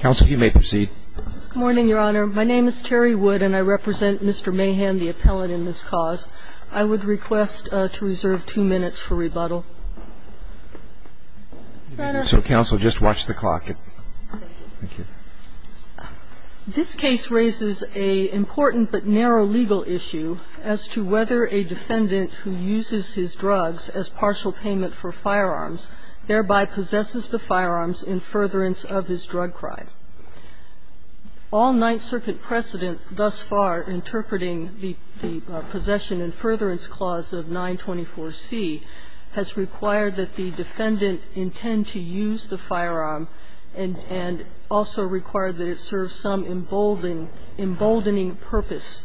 Good morning, Your Honor. My name is Terry Wood and I represent Mr. Mahan, the appellate in this cause. I would request to reserve two minutes for rebuttal. So, counsel, just watch the clock. Thank you. This case raises an important but narrow legal issue as to whether a defendant who uses his drugs as partial payment for firearms thereby possesses the firearms in furtherance of his drug crime. All Ninth Circuit precedent thus far interpreting the Possession and Furtherance Clause of 924C has required that the defendant intend to use the firearm and also required that it serve some emboldening purpose.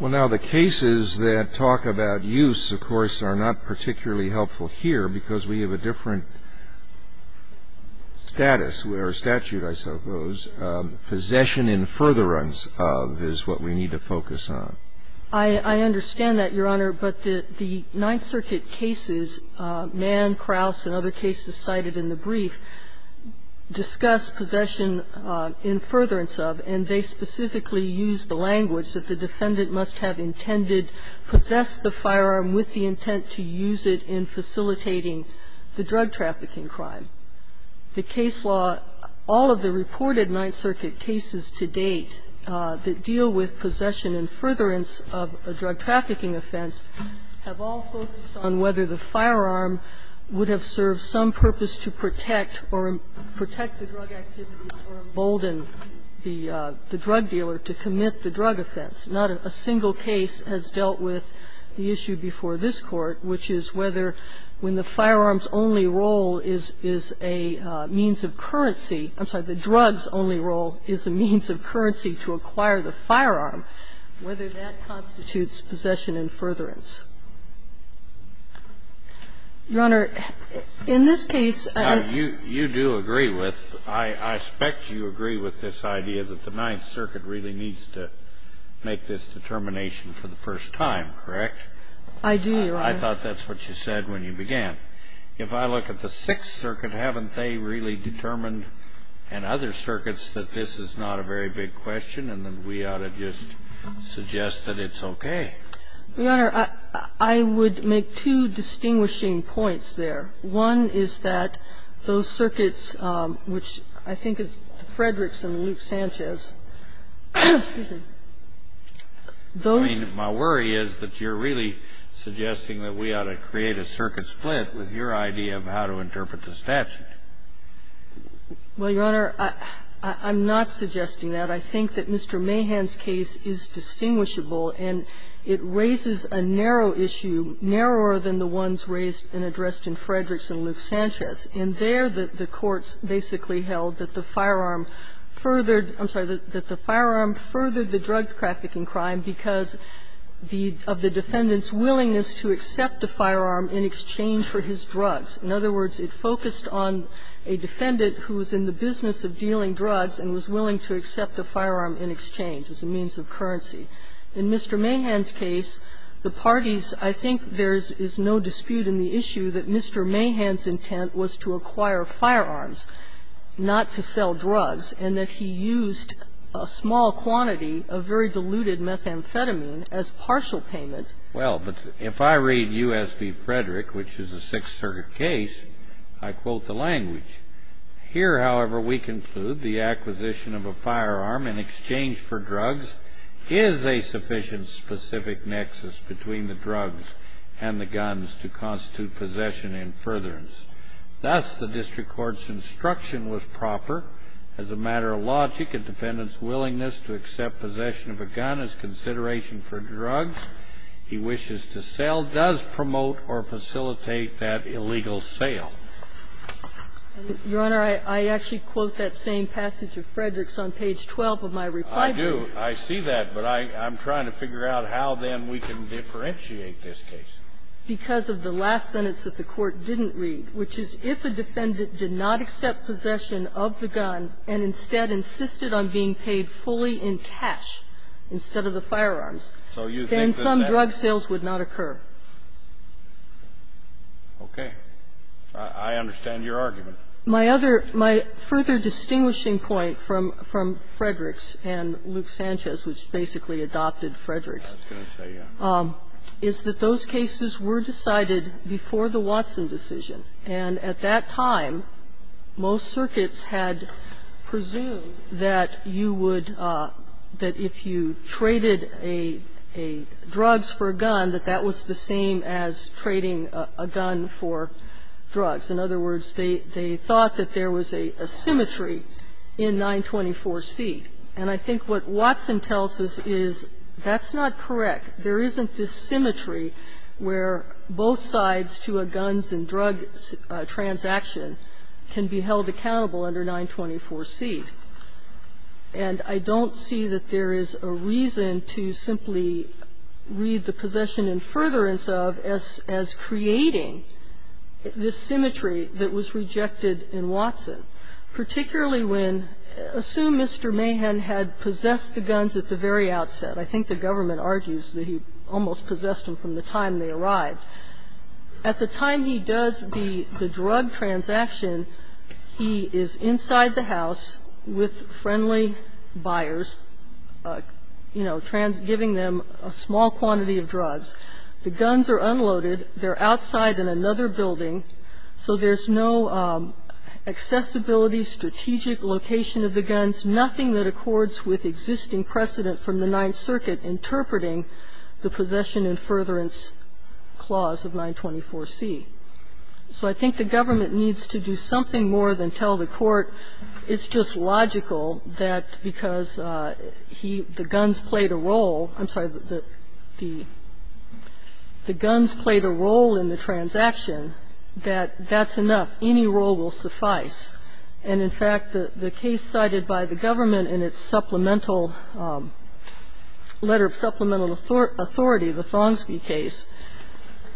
Well, now, the cases that talk about use, of course, are not particularly helpful here because we have a different status, or statute, I suppose. Possession in furtherance of is what we need to focus on. I understand that, Your Honor, but the Ninth Circuit cases, Mann, Krauss, and other cases cited in the brief, discuss possession in furtherance of, and they specifically use the language that the defendant must have intended to possess the firearm with the intent to use it in facilitating the drug trafficking crime. The case law, all of the reported Ninth Circuit cases to date that deal with possession in furtherance of a drug trafficking offense have all focused on whether the firearm would have served some purpose to protect or protect the drug activity or embolden the drug dealer to commit the drug offense. Not a single case has dealt with the issue before this Court, which is whether when the firearm's only role is a means of currency – I'm sorry, the drug's only role is a means of currency to acquire the firearm, whether that constitutes possession in furtherance. Your Honor, in this case, I'm going to say that the defendant's intent was to possess I'm not going to say that the defendant's intent was to embolden the drug activity. I agree with this idea that the Ninth Circuit really needs to make this determination for the first time, correct? I do, Your Honor. I thought that's what you said when you began. If I look at the Sixth Circuit, haven't they really determined, and other circuits, that this is not a very big question and that we ought to just suggest that it's okay? Your Honor, I would make two distinguishing points there. One is that those circuits, which I think is Frederickson and Luke Sanchez, those I mean, my worry is that you're really suggesting that we ought to create a circuit split with your idea of how to interpret the statute. Well, Your Honor, I'm not suggesting that. I think that Mr. Mahan's case is distinguishable, and it raises a narrow issue, narrower than the ones raised and addressed in Frederickson and Luke Sanchez. And there, the courts basically held that the firearm furthered the drug trafficking crime because of the defendant's willingness to accept a firearm in exchange for his drugs. In other words, it focused on a defendant who was in the business of dealing drugs and was willing to accept a firearm in exchange as a means of currency. In Mr. Mahan's case, the parties, I think there is no dispute in the issue that Mr. Mahan's intent was to acquire firearms, not to sell drugs, and that he used a small quantity of very diluted methamphetamine as partial payment. Well, but if I read U.S. v. Frederick, which is a Sixth Circuit case, I quote the language. Here, however, we conclude the acquisition of a firearm in exchange for drugs is a sufficient specific nexus between the drugs and the guns to constitute possession and furtherance. Thus, the district court's instruction was proper. As a matter of logic, a defendant's willingness to accept possession of a gun as consideration for drugs he wishes to sell does promote or facilitate that illegal sale. Your Honor, I actually quote that same passage of Frederick's on page 12 of my reply brief. I do. I see that, but I'm trying to figure out how, then, we can differentiate this case. Because of the last sentence that the Court didn't read, which is, if a defendant did not accept possession of the gun and instead insisted on being paid fully in cash instead of the firearms, then some drug sales would not occur. Okay. I understand your argument. My other – my further distinguishing point from Frederick's and Luke Sanchez, which basically adopted Frederick's, is that those cases were decided before the Watson decision. And at that time, most circuits had presumed that you would – that if you traded a – a drugs for a gun, that that was the same as trading a gun for drugs. In other words, they thought that there was a symmetry in 924C. And I think what Watson tells us is that's not correct. There isn't this symmetry where both sides to a guns and drugs transaction can be held accountable under 924C. And I don't see that there is a reason to simply read the possession in furtherance of as – as creating this symmetry that was rejected in Watson, particularly when – assume Mr. Mahan had possessed the guns at the very outset. I think the government argues that he almost possessed them from the time they arrived. At the time he does the drug transaction, he is inside the house with friendly buyers, you know, giving them a small quantity of drugs. The guns are unloaded. They're outside in another building. So there's no accessibility, strategic location of the guns, nothing that accords with existing precedent from the Ninth Circuit interpreting the possession in furtherance clause of 924C. So I think the government needs to do something more than tell the Court it's just logical that because he – the guns played a role – I'm sorry, the guns played a role in the transaction that that's enough, any role will suffice. And in fact, the case cited by the government in its supplemental – letter of supplemental authority, the Thongsby case,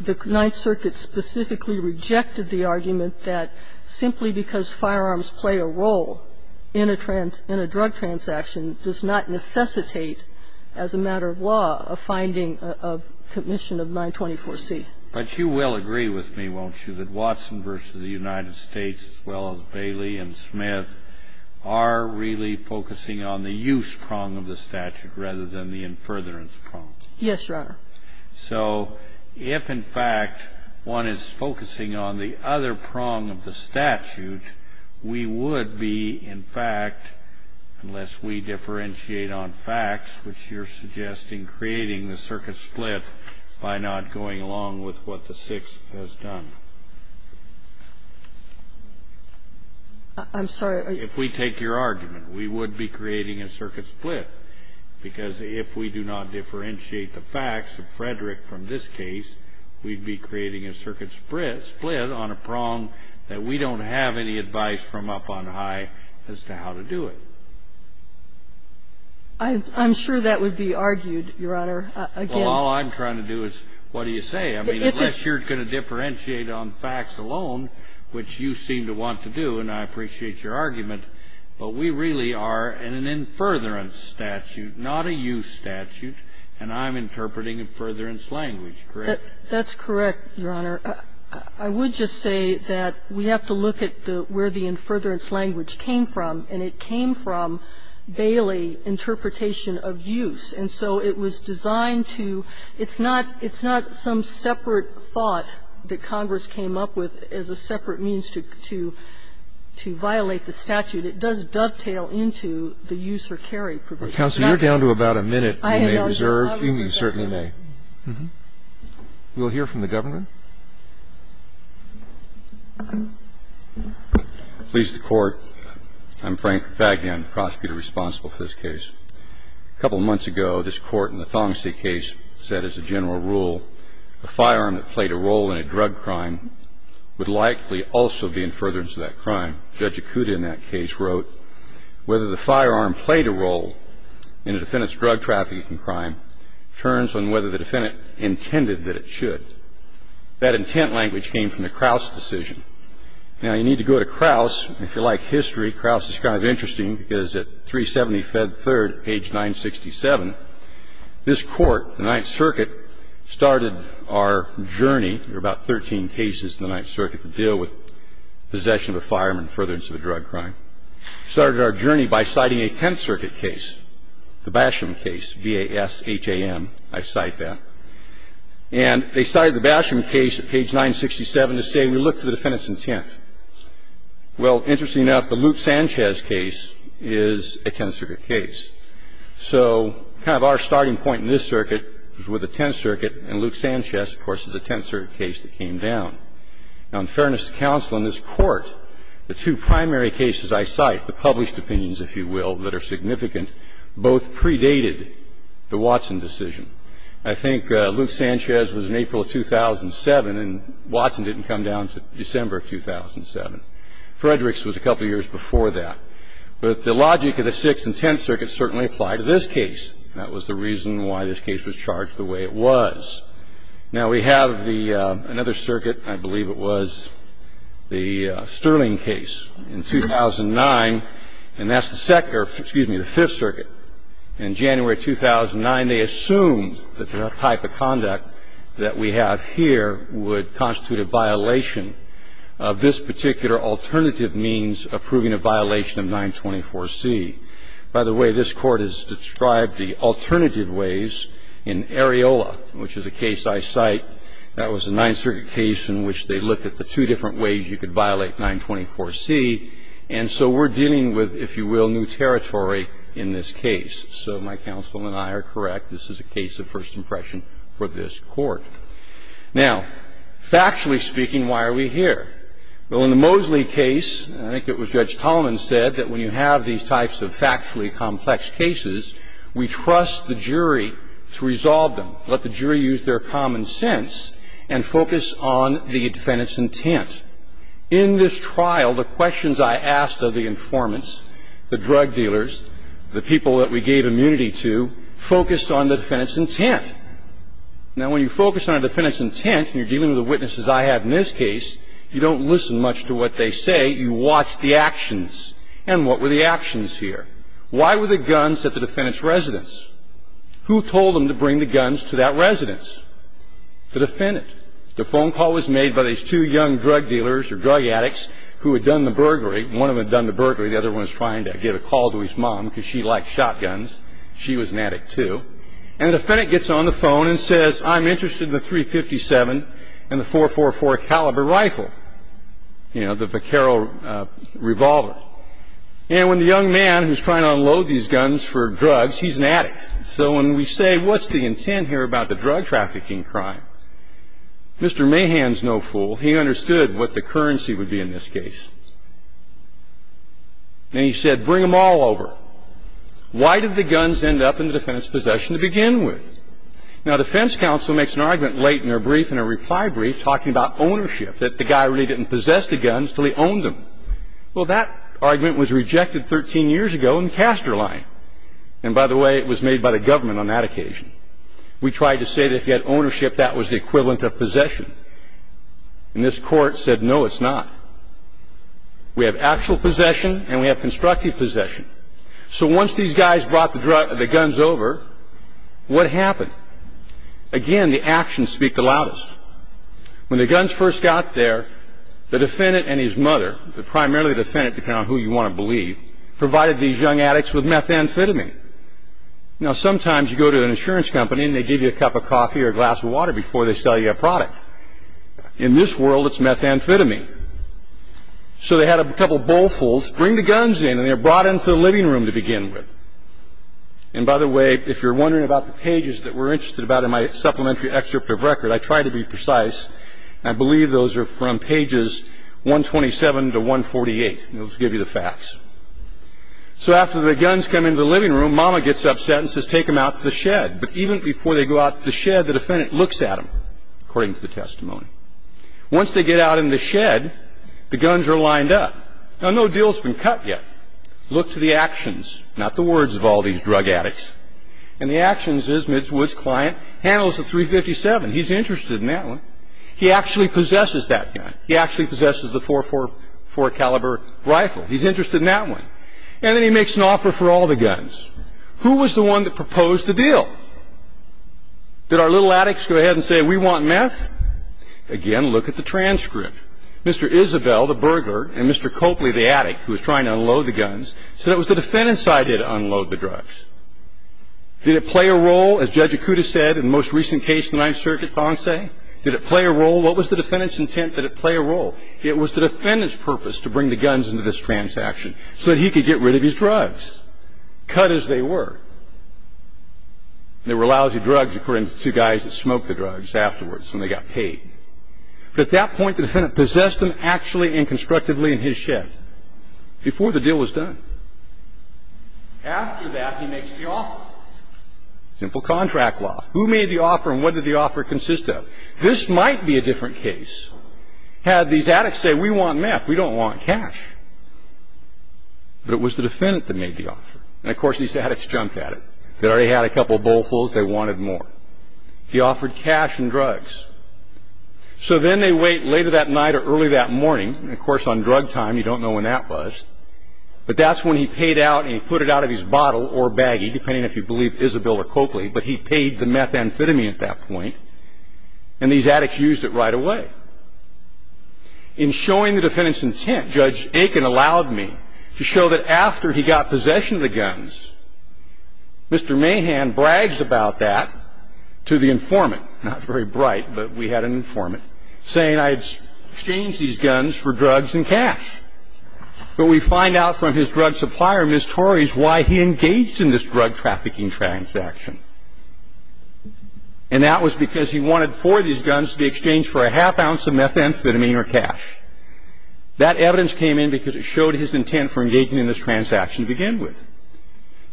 the Ninth Circuit specifically rejected the argument that simply because firearms play a role in a drug transaction does not necessitate as a matter of law a finding of commission of 924C. But you will agree with me, won't you, that Watson v. the United States, as well as Bailey and Smith, are really focusing on the use prong of the statute rather than the in furtherance prong? Yes, Your Honor. So if, in fact, one is focusing on the other prong of the statute, we would be, in fact, unless we differentiate on facts, which you're suggesting creating the circuit split by not going along with what the Sixth has done. I'm sorry. If we take your argument, we would be creating a circuit split, because if we do not differentiate the facts of Frederick from this case, we'd be creating a circuit split on a prong that we don't have any advice from up on high as to how to do it. I'm sure that would be argued, Your Honor. Again – Well, all I'm trying to do is, what do you say? Well, I'm not saying that we should differentiate on facts alone, which you seem to want to do, and I appreciate your argument, but we really are in an in furtherance statute, not a use statute, and I'm interpreting in furtherance language, correct? That's correct, Your Honor. I would just say that we have to look at where the in furtherance language came from, and it came from Bailey interpretation of use. And so it was designed to – it's not – it's not some separate thought that Congress came up with as a separate means to – to violate the statute. It does dovetail into the use or carry provision. Counsel, you're down to about a minute. You may reserve. You certainly may. We'll hear from the government. Please, the Court. I'm Frank Faggion, the prosecutor responsible for this case. A couple of months ago, this Court in the Thomsey case said as a general rule, a firearm that played a role in a drug crime would likely also be in furtherance of that crime. Judge Acuda in that case wrote, Whether the firearm played a role in a defendant's drug trafficking crime turns on whether the defendant intended that it should. That intent language came from the Kraus decision. Now, you need to go to Kraus, if you like history. Kraus is kind of interesting, because at 370 Fed 3rd, page 967, this Court, the Ninth Circuit, started our journey – there are about 13 cases in the Ninth Circuit that deal with possession of a firearm in furtherance of a drug crime – started our journey by citing a Tenth Circuit case, the Basham case, B-A-S-H-A-M. I cite that. And they cited the Basham case at page 967 to say, we look to the defendant's intent. Well, interestingly enough, the Luke Sanchez case is a Tenth Circuit case. So kind of our starting point in this circuit is with the Tenth Circuit, and Luke Sanchez, of course, is a Tenth Circuit case that came down. Now, in fairness to counsel, in this Court, the two primary cases I cite, the published opinions, if you will, that are significant, both predated the Watson decision. I think Luke Sanchez was in April of 2007, and Watson didn't come down until December of 2007. Frederick's was a couple of years before that. But the logic of the Sixth and Tenth Circuits certainly apply to this case. That was the reason why this case was charged the way it was. Now, we have the – another circuit, I believe it was, the Sterling case in 2009, and that's the second – or, excuse me, the Fifth Circuit. In January 2009, they assumed that the type of conduct that we have here would constitute a violation of this particular alternative means approving a violation of 924C. By the way, this Court has described the alternative ways in Areola, which is a case I cite. That was a Ninth Circuit case in which they looked at the two different ways you could violate 924C. And so we're dealing with, if you will, new territory in this case. So my counsel and I are correct. This is a case of first impression for this Court. Now, factually speaking, why are we here? Well, in the Mosley case, I think it was Judge Tolman said that when you have these types of factually complex cases, we trust the jury to resolve them, let the jury use their common sense, and focus on the defendant's intent. In this trial, the questions I asked of the informants, the drug dealers, the people who were involved in this case, they said, well, we trust the jury to resolve them. We trust the jury to use their common sense, and we trust the jury to resolve them. Now, when you focus on a defendant's intent, and you're dealing with the witnesses I have in this case, you don't listen much to what they say. You watch the actions. And what were the actions here? Why were the guns at the defendant's residence? Who told them to bring the guns to that residence? The defendant. The phone call was made by these two young drug dealers or drug addicts who had done the burglary. One of them had done the burglary. The other one was trying to give a call to his mom because she liked shotguns. She was an addict, too. And the defendant gets on the phone and says, I'm interested in the .357 and the .444 caliber rifle, you know, the Vekaro revolver. And when the young man who's trying to unload these guns for drugs, he's an addict. So when we say, what's the intent here about the drug trafficking crime? Mr. Mahan's no fool. He understood what the currency would be in this case. And he said, bring them all over. Why did the guns end up in the defendant's possession to begin with? Now, defense counsel makes an argument late in their brief, in a reply brief, talking about ownership, that the guy really didn't possess the guns until he owned them. Well, that argument was rejected 13 years ago in the Caster line. And by the way, it was made by the government on that occasion. We tried to say that if you had ownership, that was the equivalent of possession. And this court said, no, it's not. We have actual possession, and we have constructive possession. So once these guys brought the guns over, what happened? Again, the actions speak the loudest. When the guns first got there, the defendant and his mother, the primarily defendant, depending on who you want to believe, provided these young addicts with methamphetamine. Now, sometimes you go to an insurance company, and they give you a cup of coffee or a glass of water before they sell you a product. In this world, it's methamphetamine. So they had a couple of bowlfuls. Bring the guns in, and they're brought into the living room to begin with. And by the way, if you're wondering about the pages that we're interested about in my supplementary excerpt of record, I try to be precise. I believe those are from pages 127 to 148. Those give you the facts. So after the guns come into the living room, mama gets upset and says, take them out to the shed. But even before they go out to the shed, the defendant looks at them, according to the testimony. Once they get out in the shed, the guns are lined up. Now, no deal's been cut yet. Look to the actions, not the words of all these drug addicts. And the actions is, Midswood's client handles a .357. He's interested in that one. He actually possesses that gun. He actually possesses the .444 caliber rifle. He's interested in that one. And then he makes an offer for all the guns. Who was the one that proposed the deal? Did our little addicts go ahead and say, we want meth? Again, look at the transcript. Mr. Isabel, the burglar, and Mr. Copley, the addict, who was trying to unload the guns, said it was the defendant's idea to unload the drugs. Did it play a role, as Judge Acuda said, in the most recent case in the Ninth Circuit, Fonse? Did it play a role? What was the defendant's intent that it play a role? It was the defendant's purpose to bring the guns into this transaction so that he could get rid of his drugs, cut as they were. And they were lousy drugs, according to two guys that smoked the drugs afterwards when they got paid. But at that point, the defendant possessed them actually and constructively in his shed before the deal was done. After that, he makes the offer. Simple contract law. Who made the offer and what did the offer consist of? This might be a different case. Had these addicts say, we want meth, we don't want cash. But it was the defendant that made the offer. And of course, these addicts jumped at it. They already had a couple bowlfuls, they wanted more. He offered cash and drugs. So then they wait later that night or early that morning, and of course on drug time, you don't know when that was. But that's when he paid out and he put it out of his bottle or baggie, depending if you believe Isabel or Copley. But he paid the meth amphetamine at that point. And these addicts used it right away. In showing the defendant's intent, Judge Aiken allowed me to show that after he got possession of the guns, Mr. Mahan bragged about that to the informant, not very bright, but we had an informant, saying I exchanged these guns for drugs and cash. But we find out from his drug supplier, Ms. Torres, why he engaged in this drug trafficking transaction. And that was because he wanted four of these guns to be exchanged for a half ounce of meth amphetamine or cash. That evidence came in because it showed his intent for engaging in this transaction to begin with.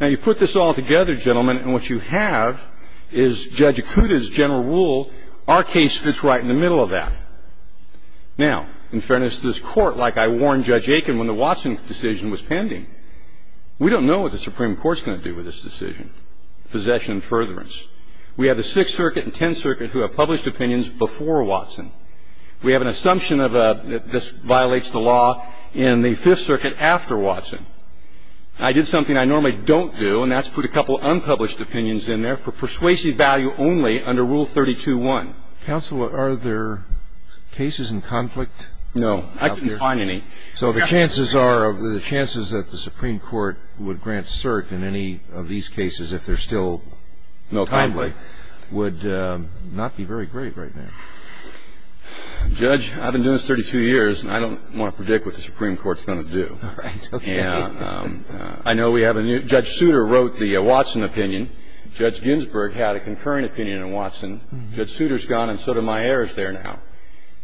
Now you put this all together, gentlemen, and what you have is Judge Acuda's general rule, our case fits right in the middle of that. Now, in fairness to this Court, like I warned Judge Aiken when the Watson decision was pending, we don't know what the Supreme Court's going to do with this decision, possession and furtherance. We have the Sixth Circuit and Tenth Circuit who have published opinions before Watson. We have an assumption that this violates the law in the Fifth Circuit after Watson. I did something I normally don't do, and that's put a couple unpublished opinions in there for persuasive value only under Rule 32-1. Counsel, are there cases in conflict? No, I couldn't find any. So the chances are, the chances that the Supreme Court would grant cert in any of these cases if they're still in conflict would not be very great right now. Judge, I've been doing this 32 years, and I don't want to predict what the Supreme Court's going to do. All right, okay. And I know we have a new, Judge Souter wrote the Watson opinion. Judge Ginsburg had a concurrent opinion in Watson. Judge Souter's gone, and so do my heirs there now.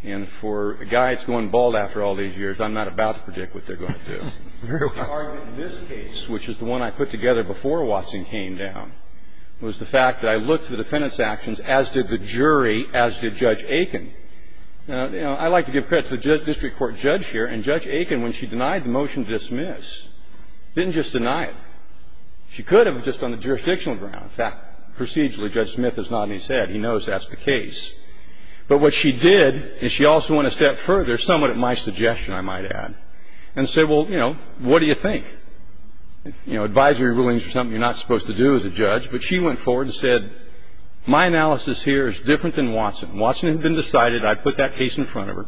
And for a guy that's going bald after all these years, I'm not about to predict what they're going to do. Very well. I think the argument in this case, which is the one I put together before Watson came down, was the fact that I looked at the defendant's actions as did the jury, as did Judge Aiken. You know, I like to give credit to the district court judge here, and Judge Aiken, when she denied the motion to dismiss, didn't just deny it. She could have, just on the jurisdictional ground. In fact, procedurally, Judge Smith has nodded his head. He knows that's the case. But what she did is she also went a step further, somewhat at my suggestion, I might add, and said, well, you know, what do you think? You know, advisory rulings are something you're not supposed to do as a judge. But she went forward and said, my analysis here is different than Watson. Watson had been decided. I put that case in front of her.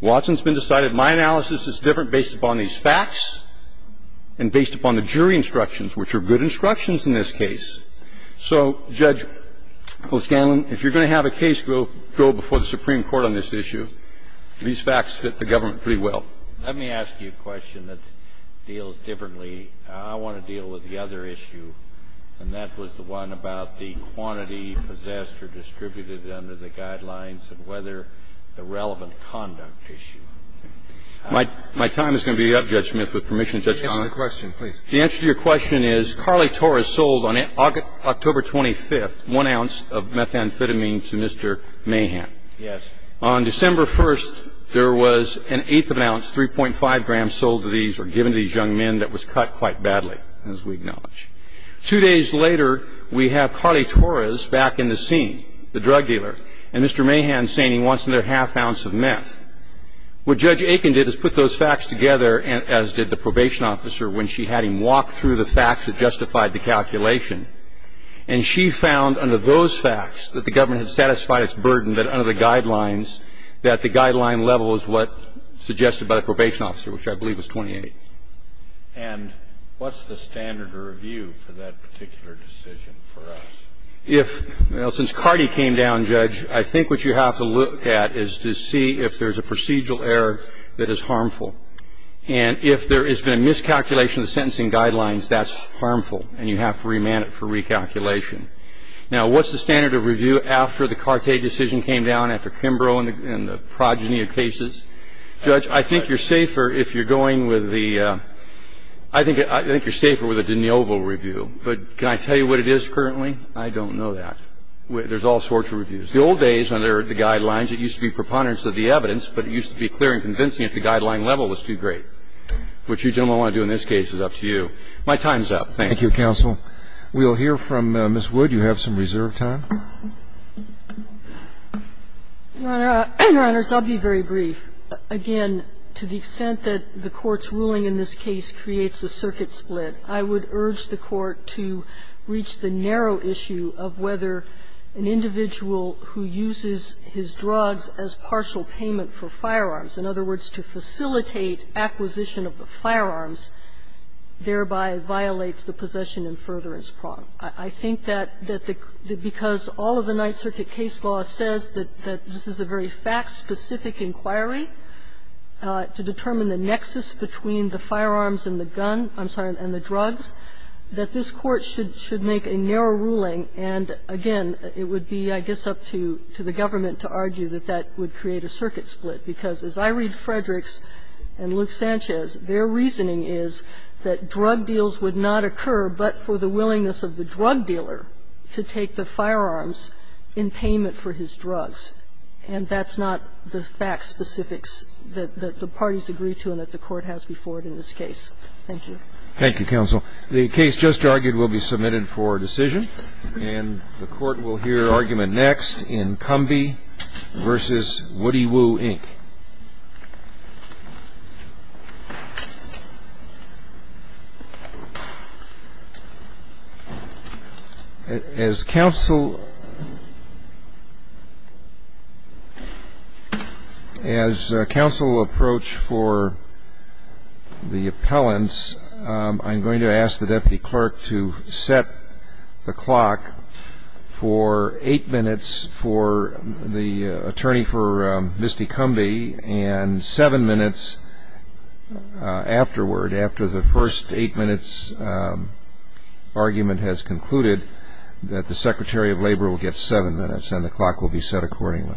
Watson's been decided. My analysis is different based upon these facts and based upon the jury instructions, which are good instructions in this case. So, Judge O'Scanlan, if you're going to have a case go before the Supreme Court on this The facts are pretty good. The facts fit the government pretty well. Let me ask you a question that deals differently. I want to deal with the other issue, and that was the one about the quantity possessed or distributed under the guidelines and whether the relevant conduct issue. My time is going to be up, Judge Smith, with permission to judge Connell. Answer the question, please. The answer to your question is Carly Torres sold, on October 25th, one ounce of methamphetamine to Mr. Mahan. Yes. On December 1st, there was an eighth of an ounce, 3.5 grams, sold to these or given to these young men that was cut quite badly, as we acknowledge. Two days later, we have Carly Torres back in the scene, the drug dealer, and Mr. Mahan saying he wants another half ounce of meth. What Judge Aiken did is put those facts together, as did the probation officer when she had him walk through the facts that justified the calculation. And she found, under those facts, that the government had satisfied its burden that, under the guidelines, that the guideline level is what suggested by the probation officer, which I believe was 28. And what's the standard of review for that particular decision for us? If you know, since Cardi came down, Judge, I think what you have to look at is to see if there's a procedural error that is harmful. And if there has been a miscalculation of the sentencing guidelines, that's harmful. And you have to remand it for recalculation. Now, what's the standard of review after the Cartet decision came down, after Kimbrough and the progeny of cases? Judge, I think you're safer if you're going with the – I think you're safer with a de novo review. But can I tell you what it is currently? I don't know that. There's all sorts of reviews. The old days, under the guidelines, it used to be preponderance of the evidence, but it used to be clear and convincing if the guideline level was too great, which you gentlemen want to do in this case, it's up to you. My time's up. Thank you. Thank you, counsel. We'll hear from Ms. Wood. You have some reserve time. Your Honors, I'll be very brief. Again, to the extent that the Court's ruling in this case creates a circuit split, I would urge the Court to reach the narrow issue of whether an individual who uses his drugs as partial payment for firearms, in other words, to facilitate acquisition of the firearms, thereby violates the possession and furtherance prong. I think that because all of the Ninth Circuit case law says that this is a very fact-specific inquiry to determine the nexus between the firearms and the gun – I'm sorry, and the drugs, that this Court should make a narrow ruling. And again, it would be, I guess, up to the government to argue that that would create a circuit split, because as I read Frederick's and Luke Sanchez, their reasoning is that drug deals would not occur but for the willingness of the drug dealer to take the firearms in payment for his drugs. And that's not the fact specifics that the parties agree to and that the Court has before it in this case. Thank you. Thank you, counsel. The case just argued will be submitted for decision. And the Court will hear argument next in Cumbie v. Woody Woo, Inc. As counsel – as counsel will approach for the appellants, I'm going to ask the Deputy Clerk to set the clock for eight minutes for the attorney for Misty Cumbie and seven minutes afterward, after the first eight minutes argument has concluded, that the Secretary of Labor will get seven minutes and the clock will be set accordingly.